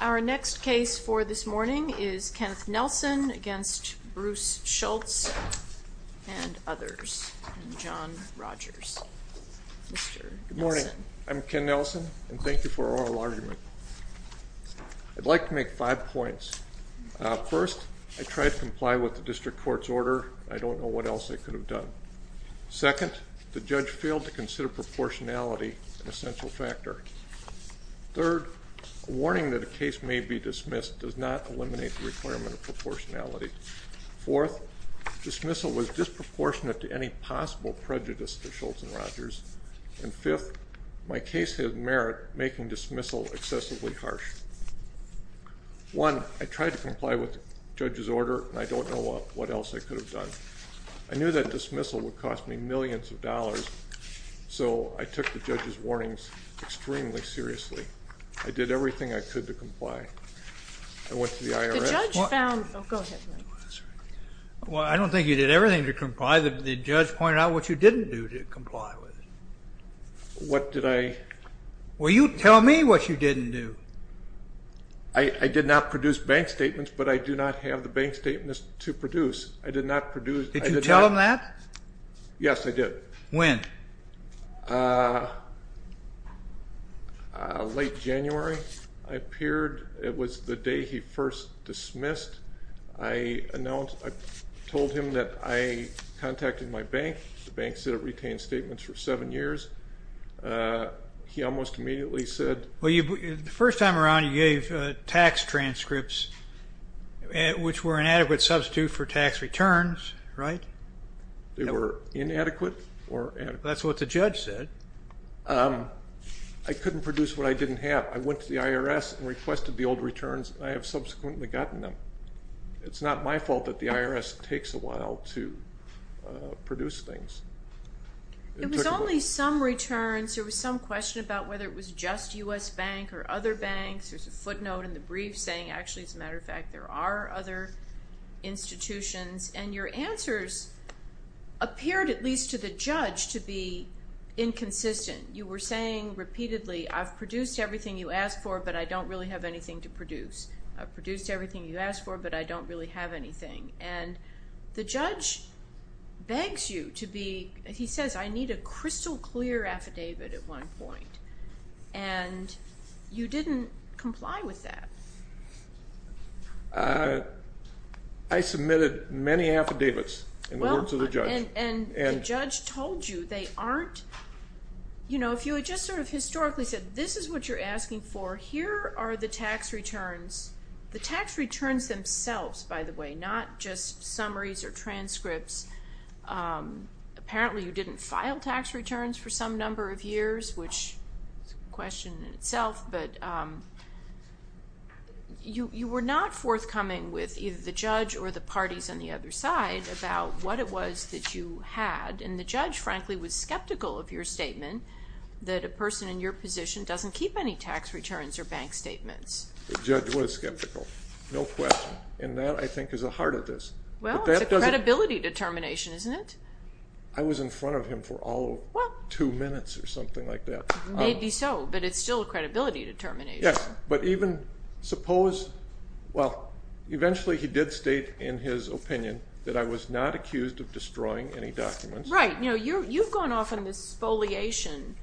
Our next case for this morning is Kenneth Nelson v. Bruce Schultz, and others, and John Rogers, Mr. Nelson. Good morning. I'm Ken Nelson, and thank you for oral argument. I'd like to make five points. First, I tried to comply with the district court's order. I don't know what else I could have done. Second, the judge failed to consider proportionality an essential factor. Third, a warning that a case may be dismissed does not eliminate the requirement of proportionality. Fourth, dismissal was disproportionate to any possible prejudice to Schultz and Rogers. And fifth, my case had merit making dismissal excessively harsh. One, I tried to comply with the judge's order, and I don't know what else I could have done. I knew that dismissal would cost me millions of dollars, so I took the judge's warnings extremely seriously. I did everything I could to comply. I went to the IRS. Well, I don't think you did everything to comply. The judge pointed out what you didn't do to comply with it. What did I? Well, you tell me what you didn't do. I did not produce bank statements, but I do not have the bank statements to produce. I did not produce. Did you tell them that? Yes, I did. When? Late January, I appeared. It was the day he first dismissed. I told him that I contacted my bank. The bank said it retained statements for seven years. He almost immediately said... Well, the first time around you gave tax transcripts, which were an adequate substitute for tax returns, right? They were inadequate or adequate. That's what the judge said. I couldn't produce what I didn't have. I went to the IRS and requested the old returns, and I have subsequently gotten them. It's not my fault that the IRS takes a while to produce things. It was only some returns. There was some question about whether it was just U.S. Bank or other banks. There's a footnote in the brief saying, actually, as a matter of fact, there are other institutions. And your answers appeared, at least to the judge, to be inconsistent. You were saying repeatedly, I've produced everything you asked for, but I don't really have anything to produce. I've produced everything you asked for, but I don't really have anything. And the judge begs you to be... he says, I need a crystal clear affidavit at one point. And you didn't comply with that. I submitted many affidavits in the words of the judge. And the judge told you they aren't... you know, if you had just sort of historically said, this is what you're asking for, here are the tax returns. The tax returns themselves, by the way, not just summaries or transcripts. Apparently you didn't file tax returns for some number of years, which is a question in itself. But you were not forthcoming with either the judge or the parties on the other side about what it was that you had. And the judge, frankly, was skeptical of your statement that a person in your position doesn't keep any tax returns or bank statements. The judge was skeptical. No question. And that, I think, is the heart of this. Well, it's a credibility determination, isn't it? I was in front of him for all of two minutes or something like that. Maybe so, but it's still a credibility determination. Yes, but even suppose... well, eventually he did state in his opinion that I was not accused of destroying any documents. Right. You know, you've gone off on this foliation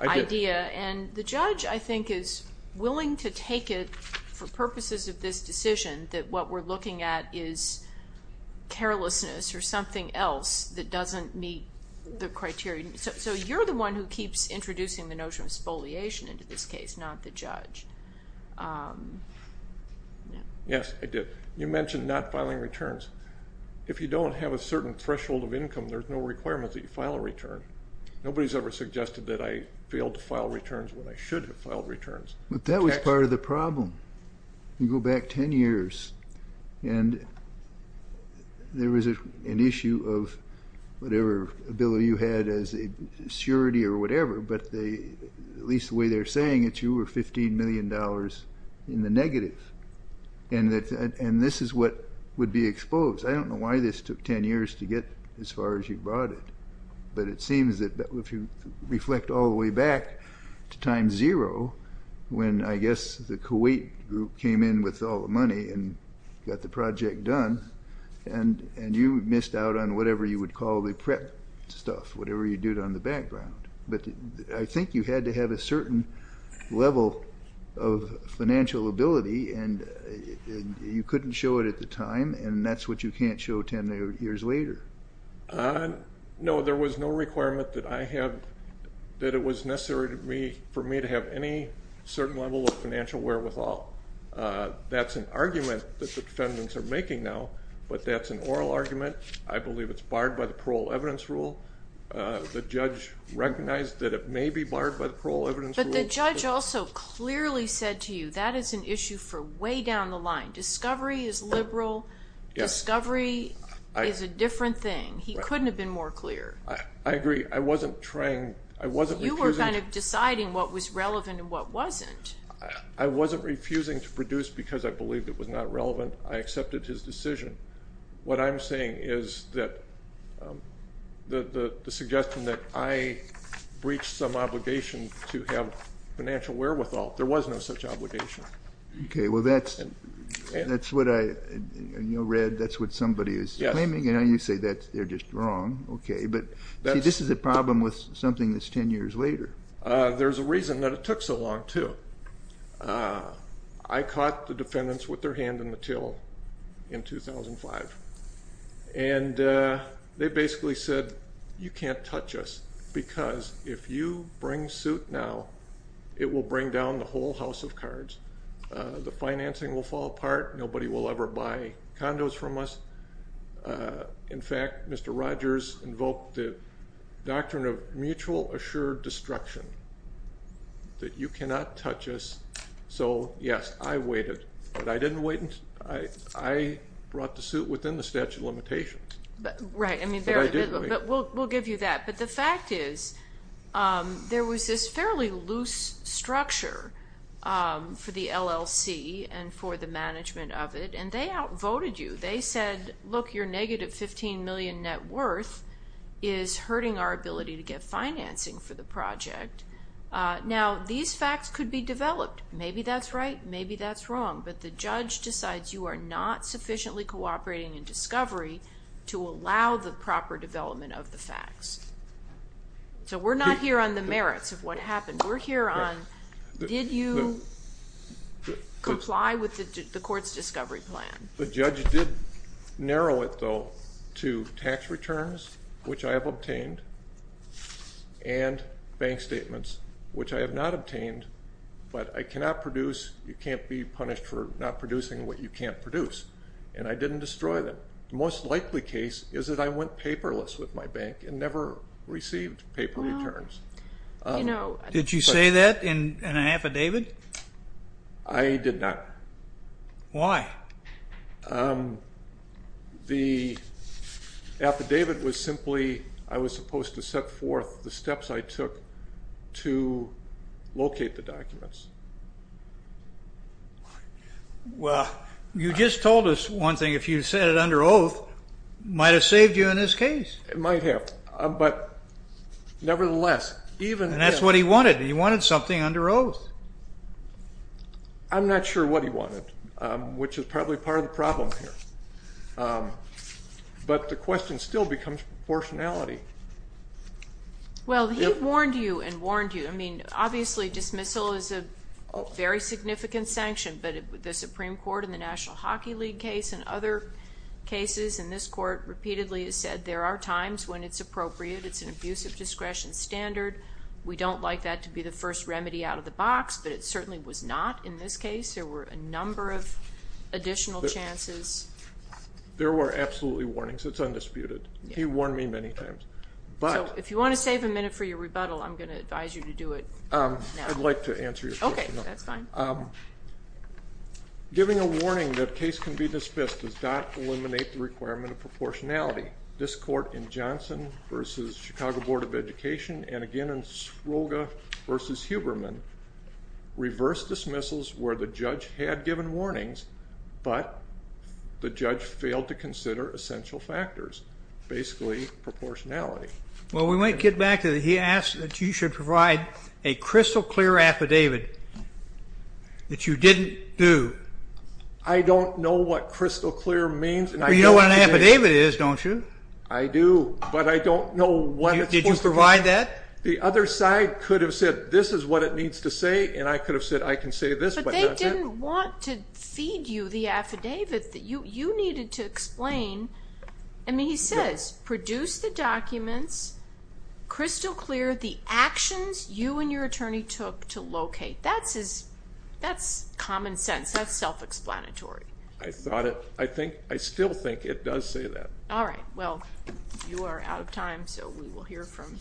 idea. And the judge, I think, is willing to take it for purposes of this decision that what we're looking at is carelessness or something else that doesn't meet the criteria. So you're the one who keeps introducing the notion of foliation into this case, not the judge. Yes, I did. You mentioned not filing returns. If you don't have a certain threshold of income, there's no requirement that you file a return. Nobody's ever suggested that I failed to file returns when I should have filed returns. But that was part of the problem. You go back 10 years, and there was an issue of whatever bill you had as a surety or whatever, but at least the way they're saying it, you were $15 million in the negative. And this is what would be exposed. I don't know why this took 10 years to get as far as you brought it, but it seems that if you reflect all the way back to time zero, when I guess the Kuwait group came in with all the money and got the project done, and you missed out on whatever you would call the prep stuff, whatever you did on the background. But I think you had to have a certain level of financial ability, and you couldn't show it at the time, and that's what you can't show 10 years later. No, there was no requirement that it was necessary for me to have any certain level of financial wherewithal. That's an argument that the defendants are making now, but that's an oral argument. I believe it's barred by the parole evidence rule. The judge recognized that it may be barred by the parole evidence rule. But the judge also clearly said to you that is an issue for way down the line. Discovery is liberal. Discovery is a different thing. He couldn't have been more clear. I agree. I wasn't trying. I wasn't refusing. You were kind of deciding what was relevant and what wasn't. I wasn't refusing to produce because I believed it was not relevant. I accepted his decision. What I'm saying is that the suggestion that I breached some obligation to have financial wherewithal, there was no such obligation. Okay. Well, that's what I read. That's what somebody is claiming. You say they're just wrong. Okay. But this is a problem with something that's 10 years later. There's a reason that it took so long, too. I caught the defendants with their hand in the till in 2005, and they basically said you can't touch us because if you bring suit now, it will bring down the whole house of cards. The financing will fall apart. Nobody will ever buy condos from us. In fact, Mr. Rogers invoked the doctrine of mutual assured destruction, that you cannot touch us. So, yes, I waited. But I didn't wait. I brought the suit within the statute of limitations. Right. But we'll give you that. But the fact is there was this fairly loose structure for the LLC and for the management of it, and they outvoted you. They said, look, your negative $15 million net worth is hurting our ability to get financing for the project. Now, these facts could be developed. Maybe that's right. Maybe that's wrong. But the judge decides you are not sufficiently cooperating in discovery to allow the proper development of the facts. So we're not here on the merits of what happened. We're here on did you comply with the court's discovery plan. The judge did narrow it, though, to tax returns, which I have obtained, and bank statements, which I have not obtained, but I cannot produce. You can't be punished for not producing what you can't produce. And I didn't destroy them. The most likely case is that I went paperless with my bank and never received paper returns. Did you say that in an affidavit? I did not. Why? The affidavit was simply I was supposed to set forth the steps I took to locate the documents. Well, you just told us one thing. If you said it under oath, it might have saved you in this case. It might have. But, nevertheless, even if he did. And that's what he wanted. He wanted something under oath. I'm not sure what he wanted, which is probably part of the problem here. But the question still becomes proportionality. Well, he warned you and warned you. I mean, obviously dismissal is a very significant sanction, but the Supreme Court in the National Hockey League case and other cases in this court repeatedly has said there are times when it's appropriate. It's an abuse of discretion standard. We don't like that to be the first remedy out of the box, but it certainly was not in this case. There were a number of additional chances. There were absolutely warnings. It's undisputed. He warned me many times. If you want to save a minute for your rebuttal, I'm going to advise you to do it now. I'd like to answer your question. Okay, that's fine. Giving a warning that a case can be dismissed does not eliminate the requirement of proportionality. This court in Johnson v. Chicago Board of Education and again in Svloga v. Huberman reversed dismissals where the judge had given warnings, but the judge failed to consider essential factors, basically proportionality. Well, we might get back to he asked that you should provide a crystal clear affidavit that you didn't do. I don't know what crystal clear means. You know what an affidavit is, don't you? I do, but I don't know when it's supposed to be. Did you provide that? The other side could have said this is what it needs to say, and I could have said I can say this, but not that. But they didn't want to feed you the affidavit. You needed to explain. I mean, he says produce the documents crystal clear, the actions you and your attorney took to locate. That's common sense. That's self-explanatory. I still think it does say that. All right. Well, you are out of time, so we will hear from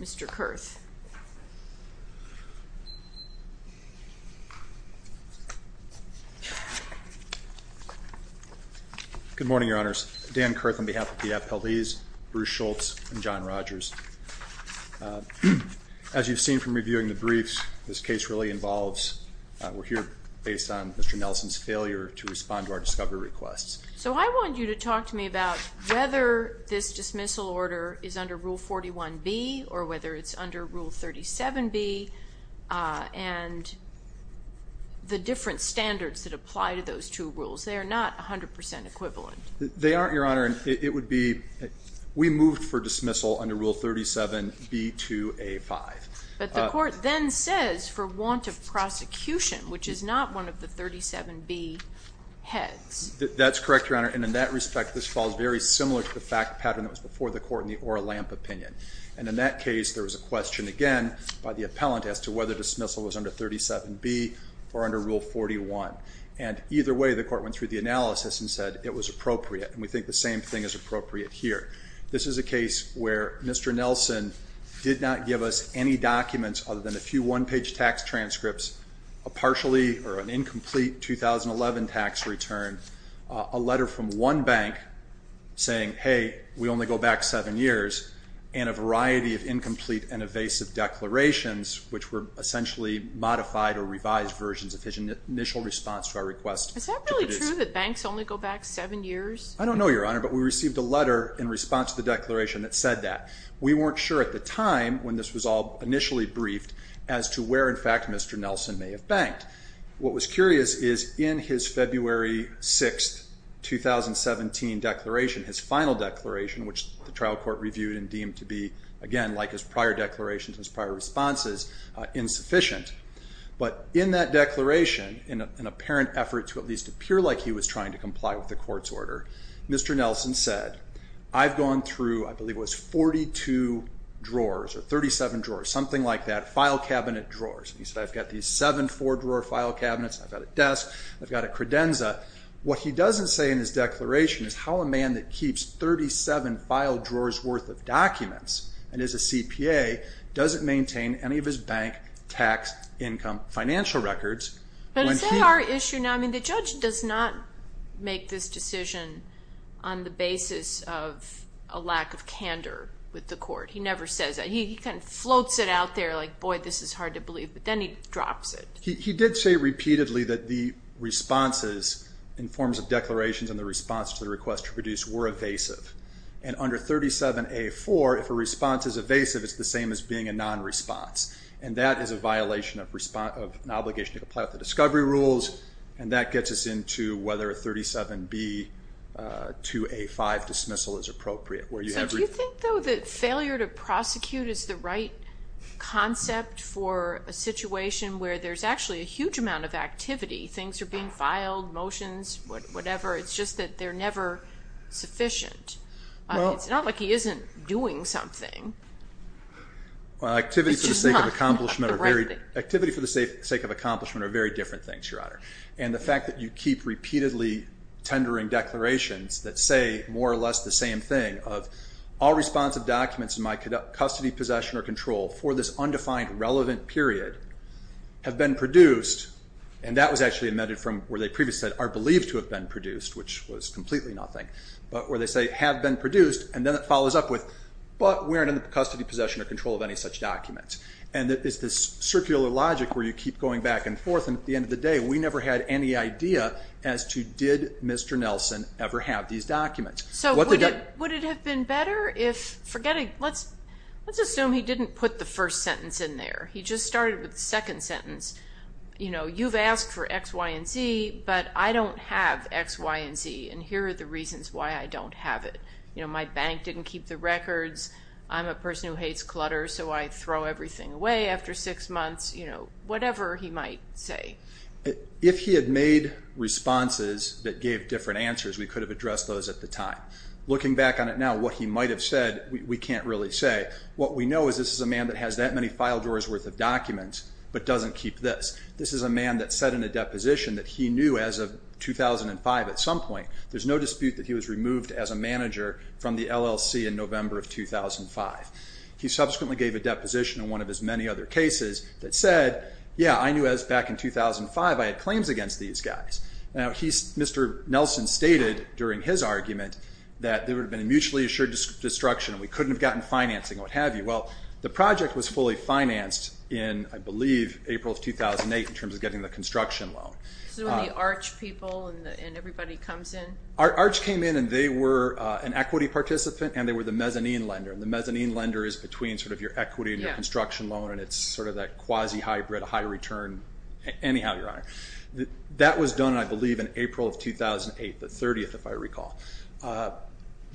Mr. Kurth. Good morning, Your Honors. Dan Kurth on behalf of the appellees, Bruce Schultz, and John Rogers. As you've seen from reviewing the briefs, this case really involves, we're here based on Mr. Nelson's failure to respond to our discovery requests. So I want you to talk to me about whether this dismissal order is under Rule 41B or whether it's under Rule 37B, and the different standards that apply to those two rules. They are not 100% equivalent. They aren't, Your Honor. It would be, we moved for dismissal under Rule 37B2A5. But the court then says for want of prosecution, which is not one of the 37B heads. That's correct, Your Honor. And in that respect, this falls very similar to the fact pattern that was before the court in the Orlamp opinion. And in that case, there was a question, again, by the appellant as to whether dismissal was under 37B or under Rule 41. And either way, the court went through the analysis and said it was appropriate. And we think the same thing is appropriate here. This is a case where Mr. Nelson did not give us any documents other than a few one-page tax transcripts, a partially or an incomplete 2011 tax return, a letter from one bank saying, hey, we only go back seven years and a variety of incomplete and evasive declarations, which were essentially modified or revised versions of his initial response to our request. Is that really true that banks only go back seven years? I don't know, Your Honor, but we received a letter in response to the declaration that said that. We weren't sure at the time when this was all initially briefed as to where, in fact, Mr. Nelson may have banked. What was curious is in his February 6, 2017 declaration, his final declaration, which the trial court reviewed and deemed to be, again, like his prior declarations and his prior responses, insufficient. But in that declaration, in an apparent effort to at least appear like he was trying to comply with the court's order, Mr. Nelson said, I've gone through, I believe it was, 42 drawers or 37 drawers, something like that, file cabinet drawers. He said, I've got these seven four-drawer file cabinets. I've got a desk. I've got a credenza. What he doesn't say in his declaration is how a man that keeps 37 file drawers worth of documents and is a CPA doesn't maintain any of his bank tax income financial records. But is that our issue now? I mean, the judge does not make this decision on the basis of a lack of candor with the court. He never says that. He kind of floats it out there like, boy, this is hard to believe, but then he drops it. He did say repeatedly that the responses in forms of declarations and the response to the request to produce were evasive. And under 37A.4, if a response is evasive, it's the same as being a non-response. And that is a violation of an obligation to comply with the discovery rules, and that gets us into whether a 37B.2A.5 dismissal is appropriate. So do you think, though, that failure to prosecute is the right concept for a situation where there's actually a huge amount of activity? Things are being filed, motions, whatever. It's just that they're never sufficient. It's not like he isn't doing something. Activity for the sake of accomplishment are very different things, Your Honor. And the fact that you keep repeatedly tendering declarations that say more or less the same thing of all responsive documents in my custody, possession, or control for this undefined relevant period have been produced, and that was actually amended from where they previously said are believed to have been produced, which was completely nothing, but where they say have been produced, and then it follows up with, but we aren't in the custody, possession, or control of any such documents. And it's this circular logic where you keep going back and forth, and at the end of the day, we never had any idea as to did Mr. Nelson ever have these documents. So would it have been better if, let's assume he didn't put the first sentence in there. He just started with the second sentence. You know, you've asked for X, Y, and Z, but I don't have X, Y, and Z, and here are the reasons why I don't have it. You know, my bank didn't keep the records. I'm a person who hates clutter, so I throw everything away after six months. You know, whatever he might say. If he had made responses that gave different answers, we could have addressed those at the time. Looking back on it now, what he might have said, we can't really say. What we know is this is a man that has that many file drawers worth of documents, but doesn't keep this. This is a man that said in a deposition that he knew as of 2005 at some point, there's no dispute that he was removed as a manager from the LLC in November of 2005. He subsequently gave a deposition in one of his many other cases that said, yeah, I knew as back in 2005, I had claims against these guys. Now, Mr. Nelson stated during his argument that there would have been a mutually assured destruction, and we couldn't have gotten financing, what have you. Well, the project was fully financed in, I believe, April of 2008 in terms of getting the construction loan. This is when the Arch people and everybody comes in? Arch came in, and they were an equity participant, and they were the mezzanine lender. The mezzanine lender is between sort of your equity and your construction loan, and it's sort of that quasi-hybrid high return. Anyhow, Your Honor, that was done, I believe, in April of 2008, the 30th, if I recall.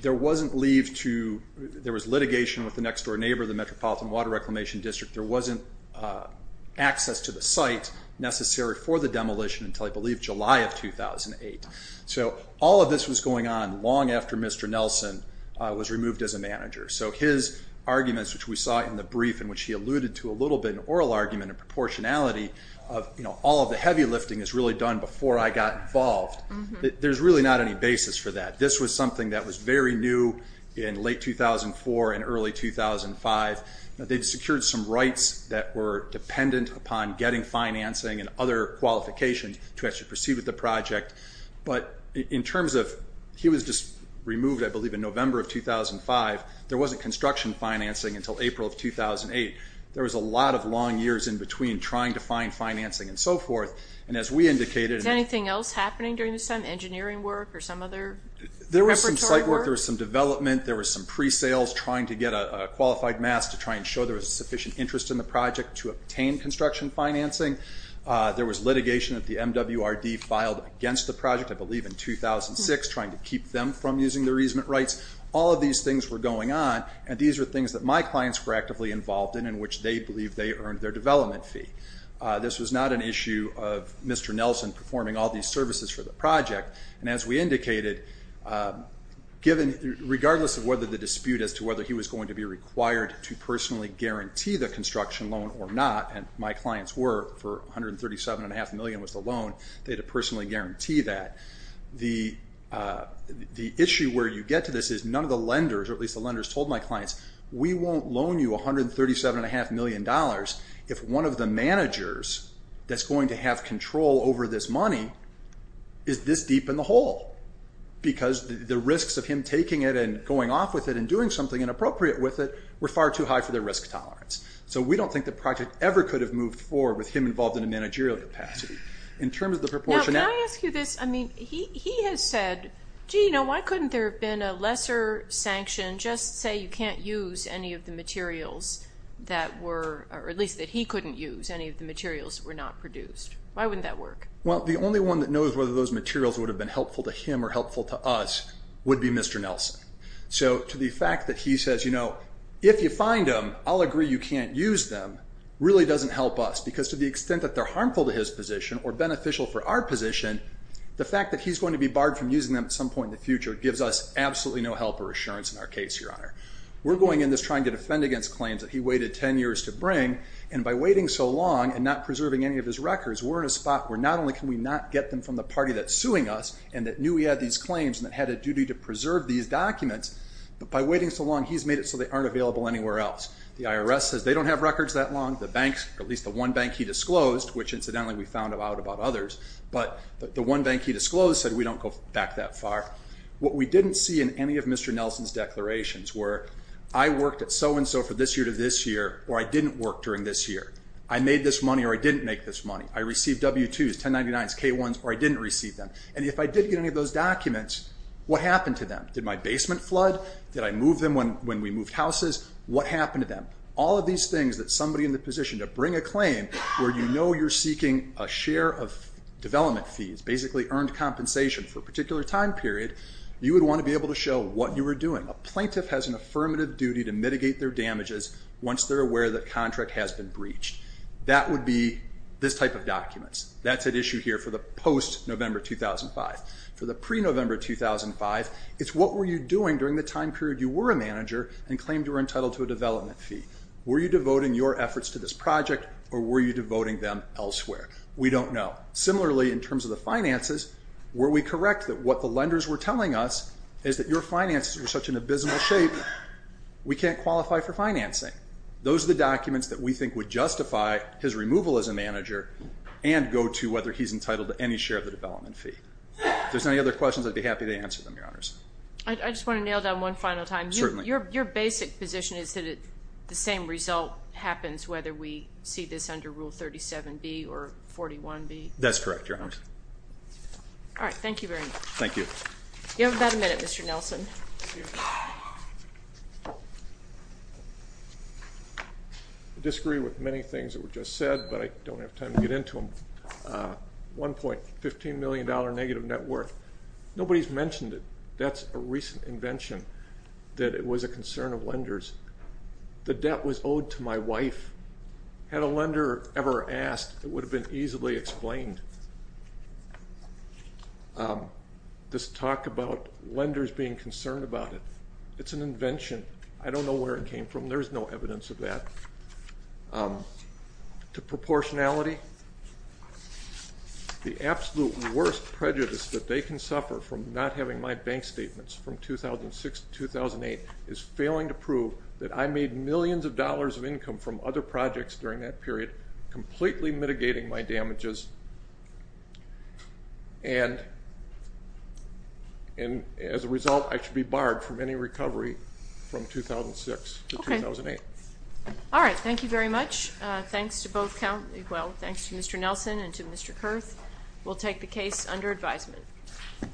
There wasn't leave to... There was litigation with the next-door neighbor of the Metropolitan Water Reclamation District. There wasn't access to the site necessary for the demolition until, I believe, July of 2008. So all of this was going on long after Mr. Nelson was removed as a manager. So his arguments, which we saw in the brief in which he alluded to a little bit, an oral argument of proportionality of, you know, all of the heavy lifting is really done before I got involved. There's really not any basis for that. This was something that was very new in late 2004 and early 2005. They'd secured some rights that were dependent upon getting financing and other qualifications to actually proceed with the project. But in terms of... He was just removed, I believe, in November of 2005. There wasn't construction financing until April of 2008. There was a lot of long years in between trying to find financing and so forth. And as we indicated... Is anything else happening during this time, engineering work or some other preparatory work? There was some site work, there was some development, there was some pre-sales trying to get a qualified mass to try and show there was sufficient interest in the project to obtain construction financing. There was litigation that the MWRD filed against the project, I believe in 2006, trying to keep them from using their easement rights. All of these things were going on, and these were things that my clients were actively involved in, in which they believed they earned their development fee. This was not an issue of Mr. Nelson performing all these services for the project. And as we indicated, regardless of whether the dispute as to whether he was going to be required to personally guarantee the construction loan or not, and my clients were for $137.5 million was the loan, they had to personally guarantee that. The issue where you get to this is none of the lenders, or at least the lenders told my clients, we won't loan you $137.5 million if one of the managers that's going to have control over this money is this deep in the hole. Because the risks of him taking it and going off with it and doing something inappropriate with it were far too high for their risk tolerance. So we don't think the project ever could have moved forward with him involved in a managerial capacity. In terms of the proportionality... Can I ask you this? I mean, he has said, gee, you know, why couldn't there have been a lesser sanction? Just say you can't use any of the materials that were... or at least that he couldn't use any of the materials that were not produced. Why wouldn't that work? Well, the only one that knows whether those materials would have been helpful to him or helpful to us would be Mr. Nelson. So to the fact that he says, you know, if you find them, I'll agree you can't use them, really doesn't help us. Because to the extent that they're harmful to his position or beneficial for our position, the fact that he's going to be barred from using them at some point in the future gives us absolutely no help or assurance in our case, Your Honor. We're going in this trying to defend against claims that he waited 10 years to bring, and by waiting so long and not preserving any of his records, we're in a spot where not only can we not get them from the party that's suing us and that knew we had these claims and that had a duty to preserve these documents, but by waiting so long, he's made it so they aren't available anywhere else. The IRS says they don't have records that long. The banks, or at least the one bank he disclosed, which incidentally we found out about others, but the one bank he disclosed said we don't go back that far. What we didn't see in any of Mr. Nelson's declarations were I worked at so-and-so for this year to this year, or I didn't work during this year. I made this money or I didn't make this money. I received W-2s, 1099s, K-1s, or I didn't receive them. And if I did get any of those documents, what happened to them? Did my basement flood? Did I move them when we moved houses? What happened to them? All of these things that somebody in the position to bring a claim where you know you're seeking a share of development fees, basically earned compensation for a particular time period, you would want to be able to show what you were doing. A plaintiff has an affirmative duty to mitigate their damages once they're aware that a contract has been breached. That would be this type of documents. That's at issue here for the post-November 2005. For the pre-November 2005, it's what were you doing during the time period you were a manager and claimed you were entitled to a development fee. Were you devoting your efforts to this project or were you devoting them elsewhere? We don't know. Similarly, in terms of the finances, were we correct that what the lenders were telling us is that your finances were such an abysmal shape, we can't qualify for financing? Those are the documents that we think would justify his removal as a manager and go to whether he's entitled to any share of the development fee. If there's any other questions, I'd be happy to answer them, Your Honors. I just want to nail down one final time. Certainly. Your basic position is that the same result happens whether we see this under Rule 37B or 41B? That's correct, Your Honors. All right. Thank you very much. Thank you. You have about a minute, Mr. Nelson. I disagree with many things that were just said, but I don't have time to get into them. $1.15 million negative net worth. Nobody's mentioned it. That's a recent invention, that it was a concern of lenders. The debt was owed to my wife. Had a lender ever asked, it would have been easily explained. This talk about lenders being concerned about it, it's an invention. I don't know where it came from. There's no evidence of that. To proportionality, the absolute worst prejudice that they can suffer from not having my bank statements from 2006 to 2008 is failing to prove that I made millions of dollars of income from other projects during that period, completely mitigating my damages, and as a result, I should be barred from any recovery from 2006 to 2008. All right. Thank you very much. Thanks to both, well, thanks to Mr. Nelson and to Mr. Kurth. We'll take the case under advisement.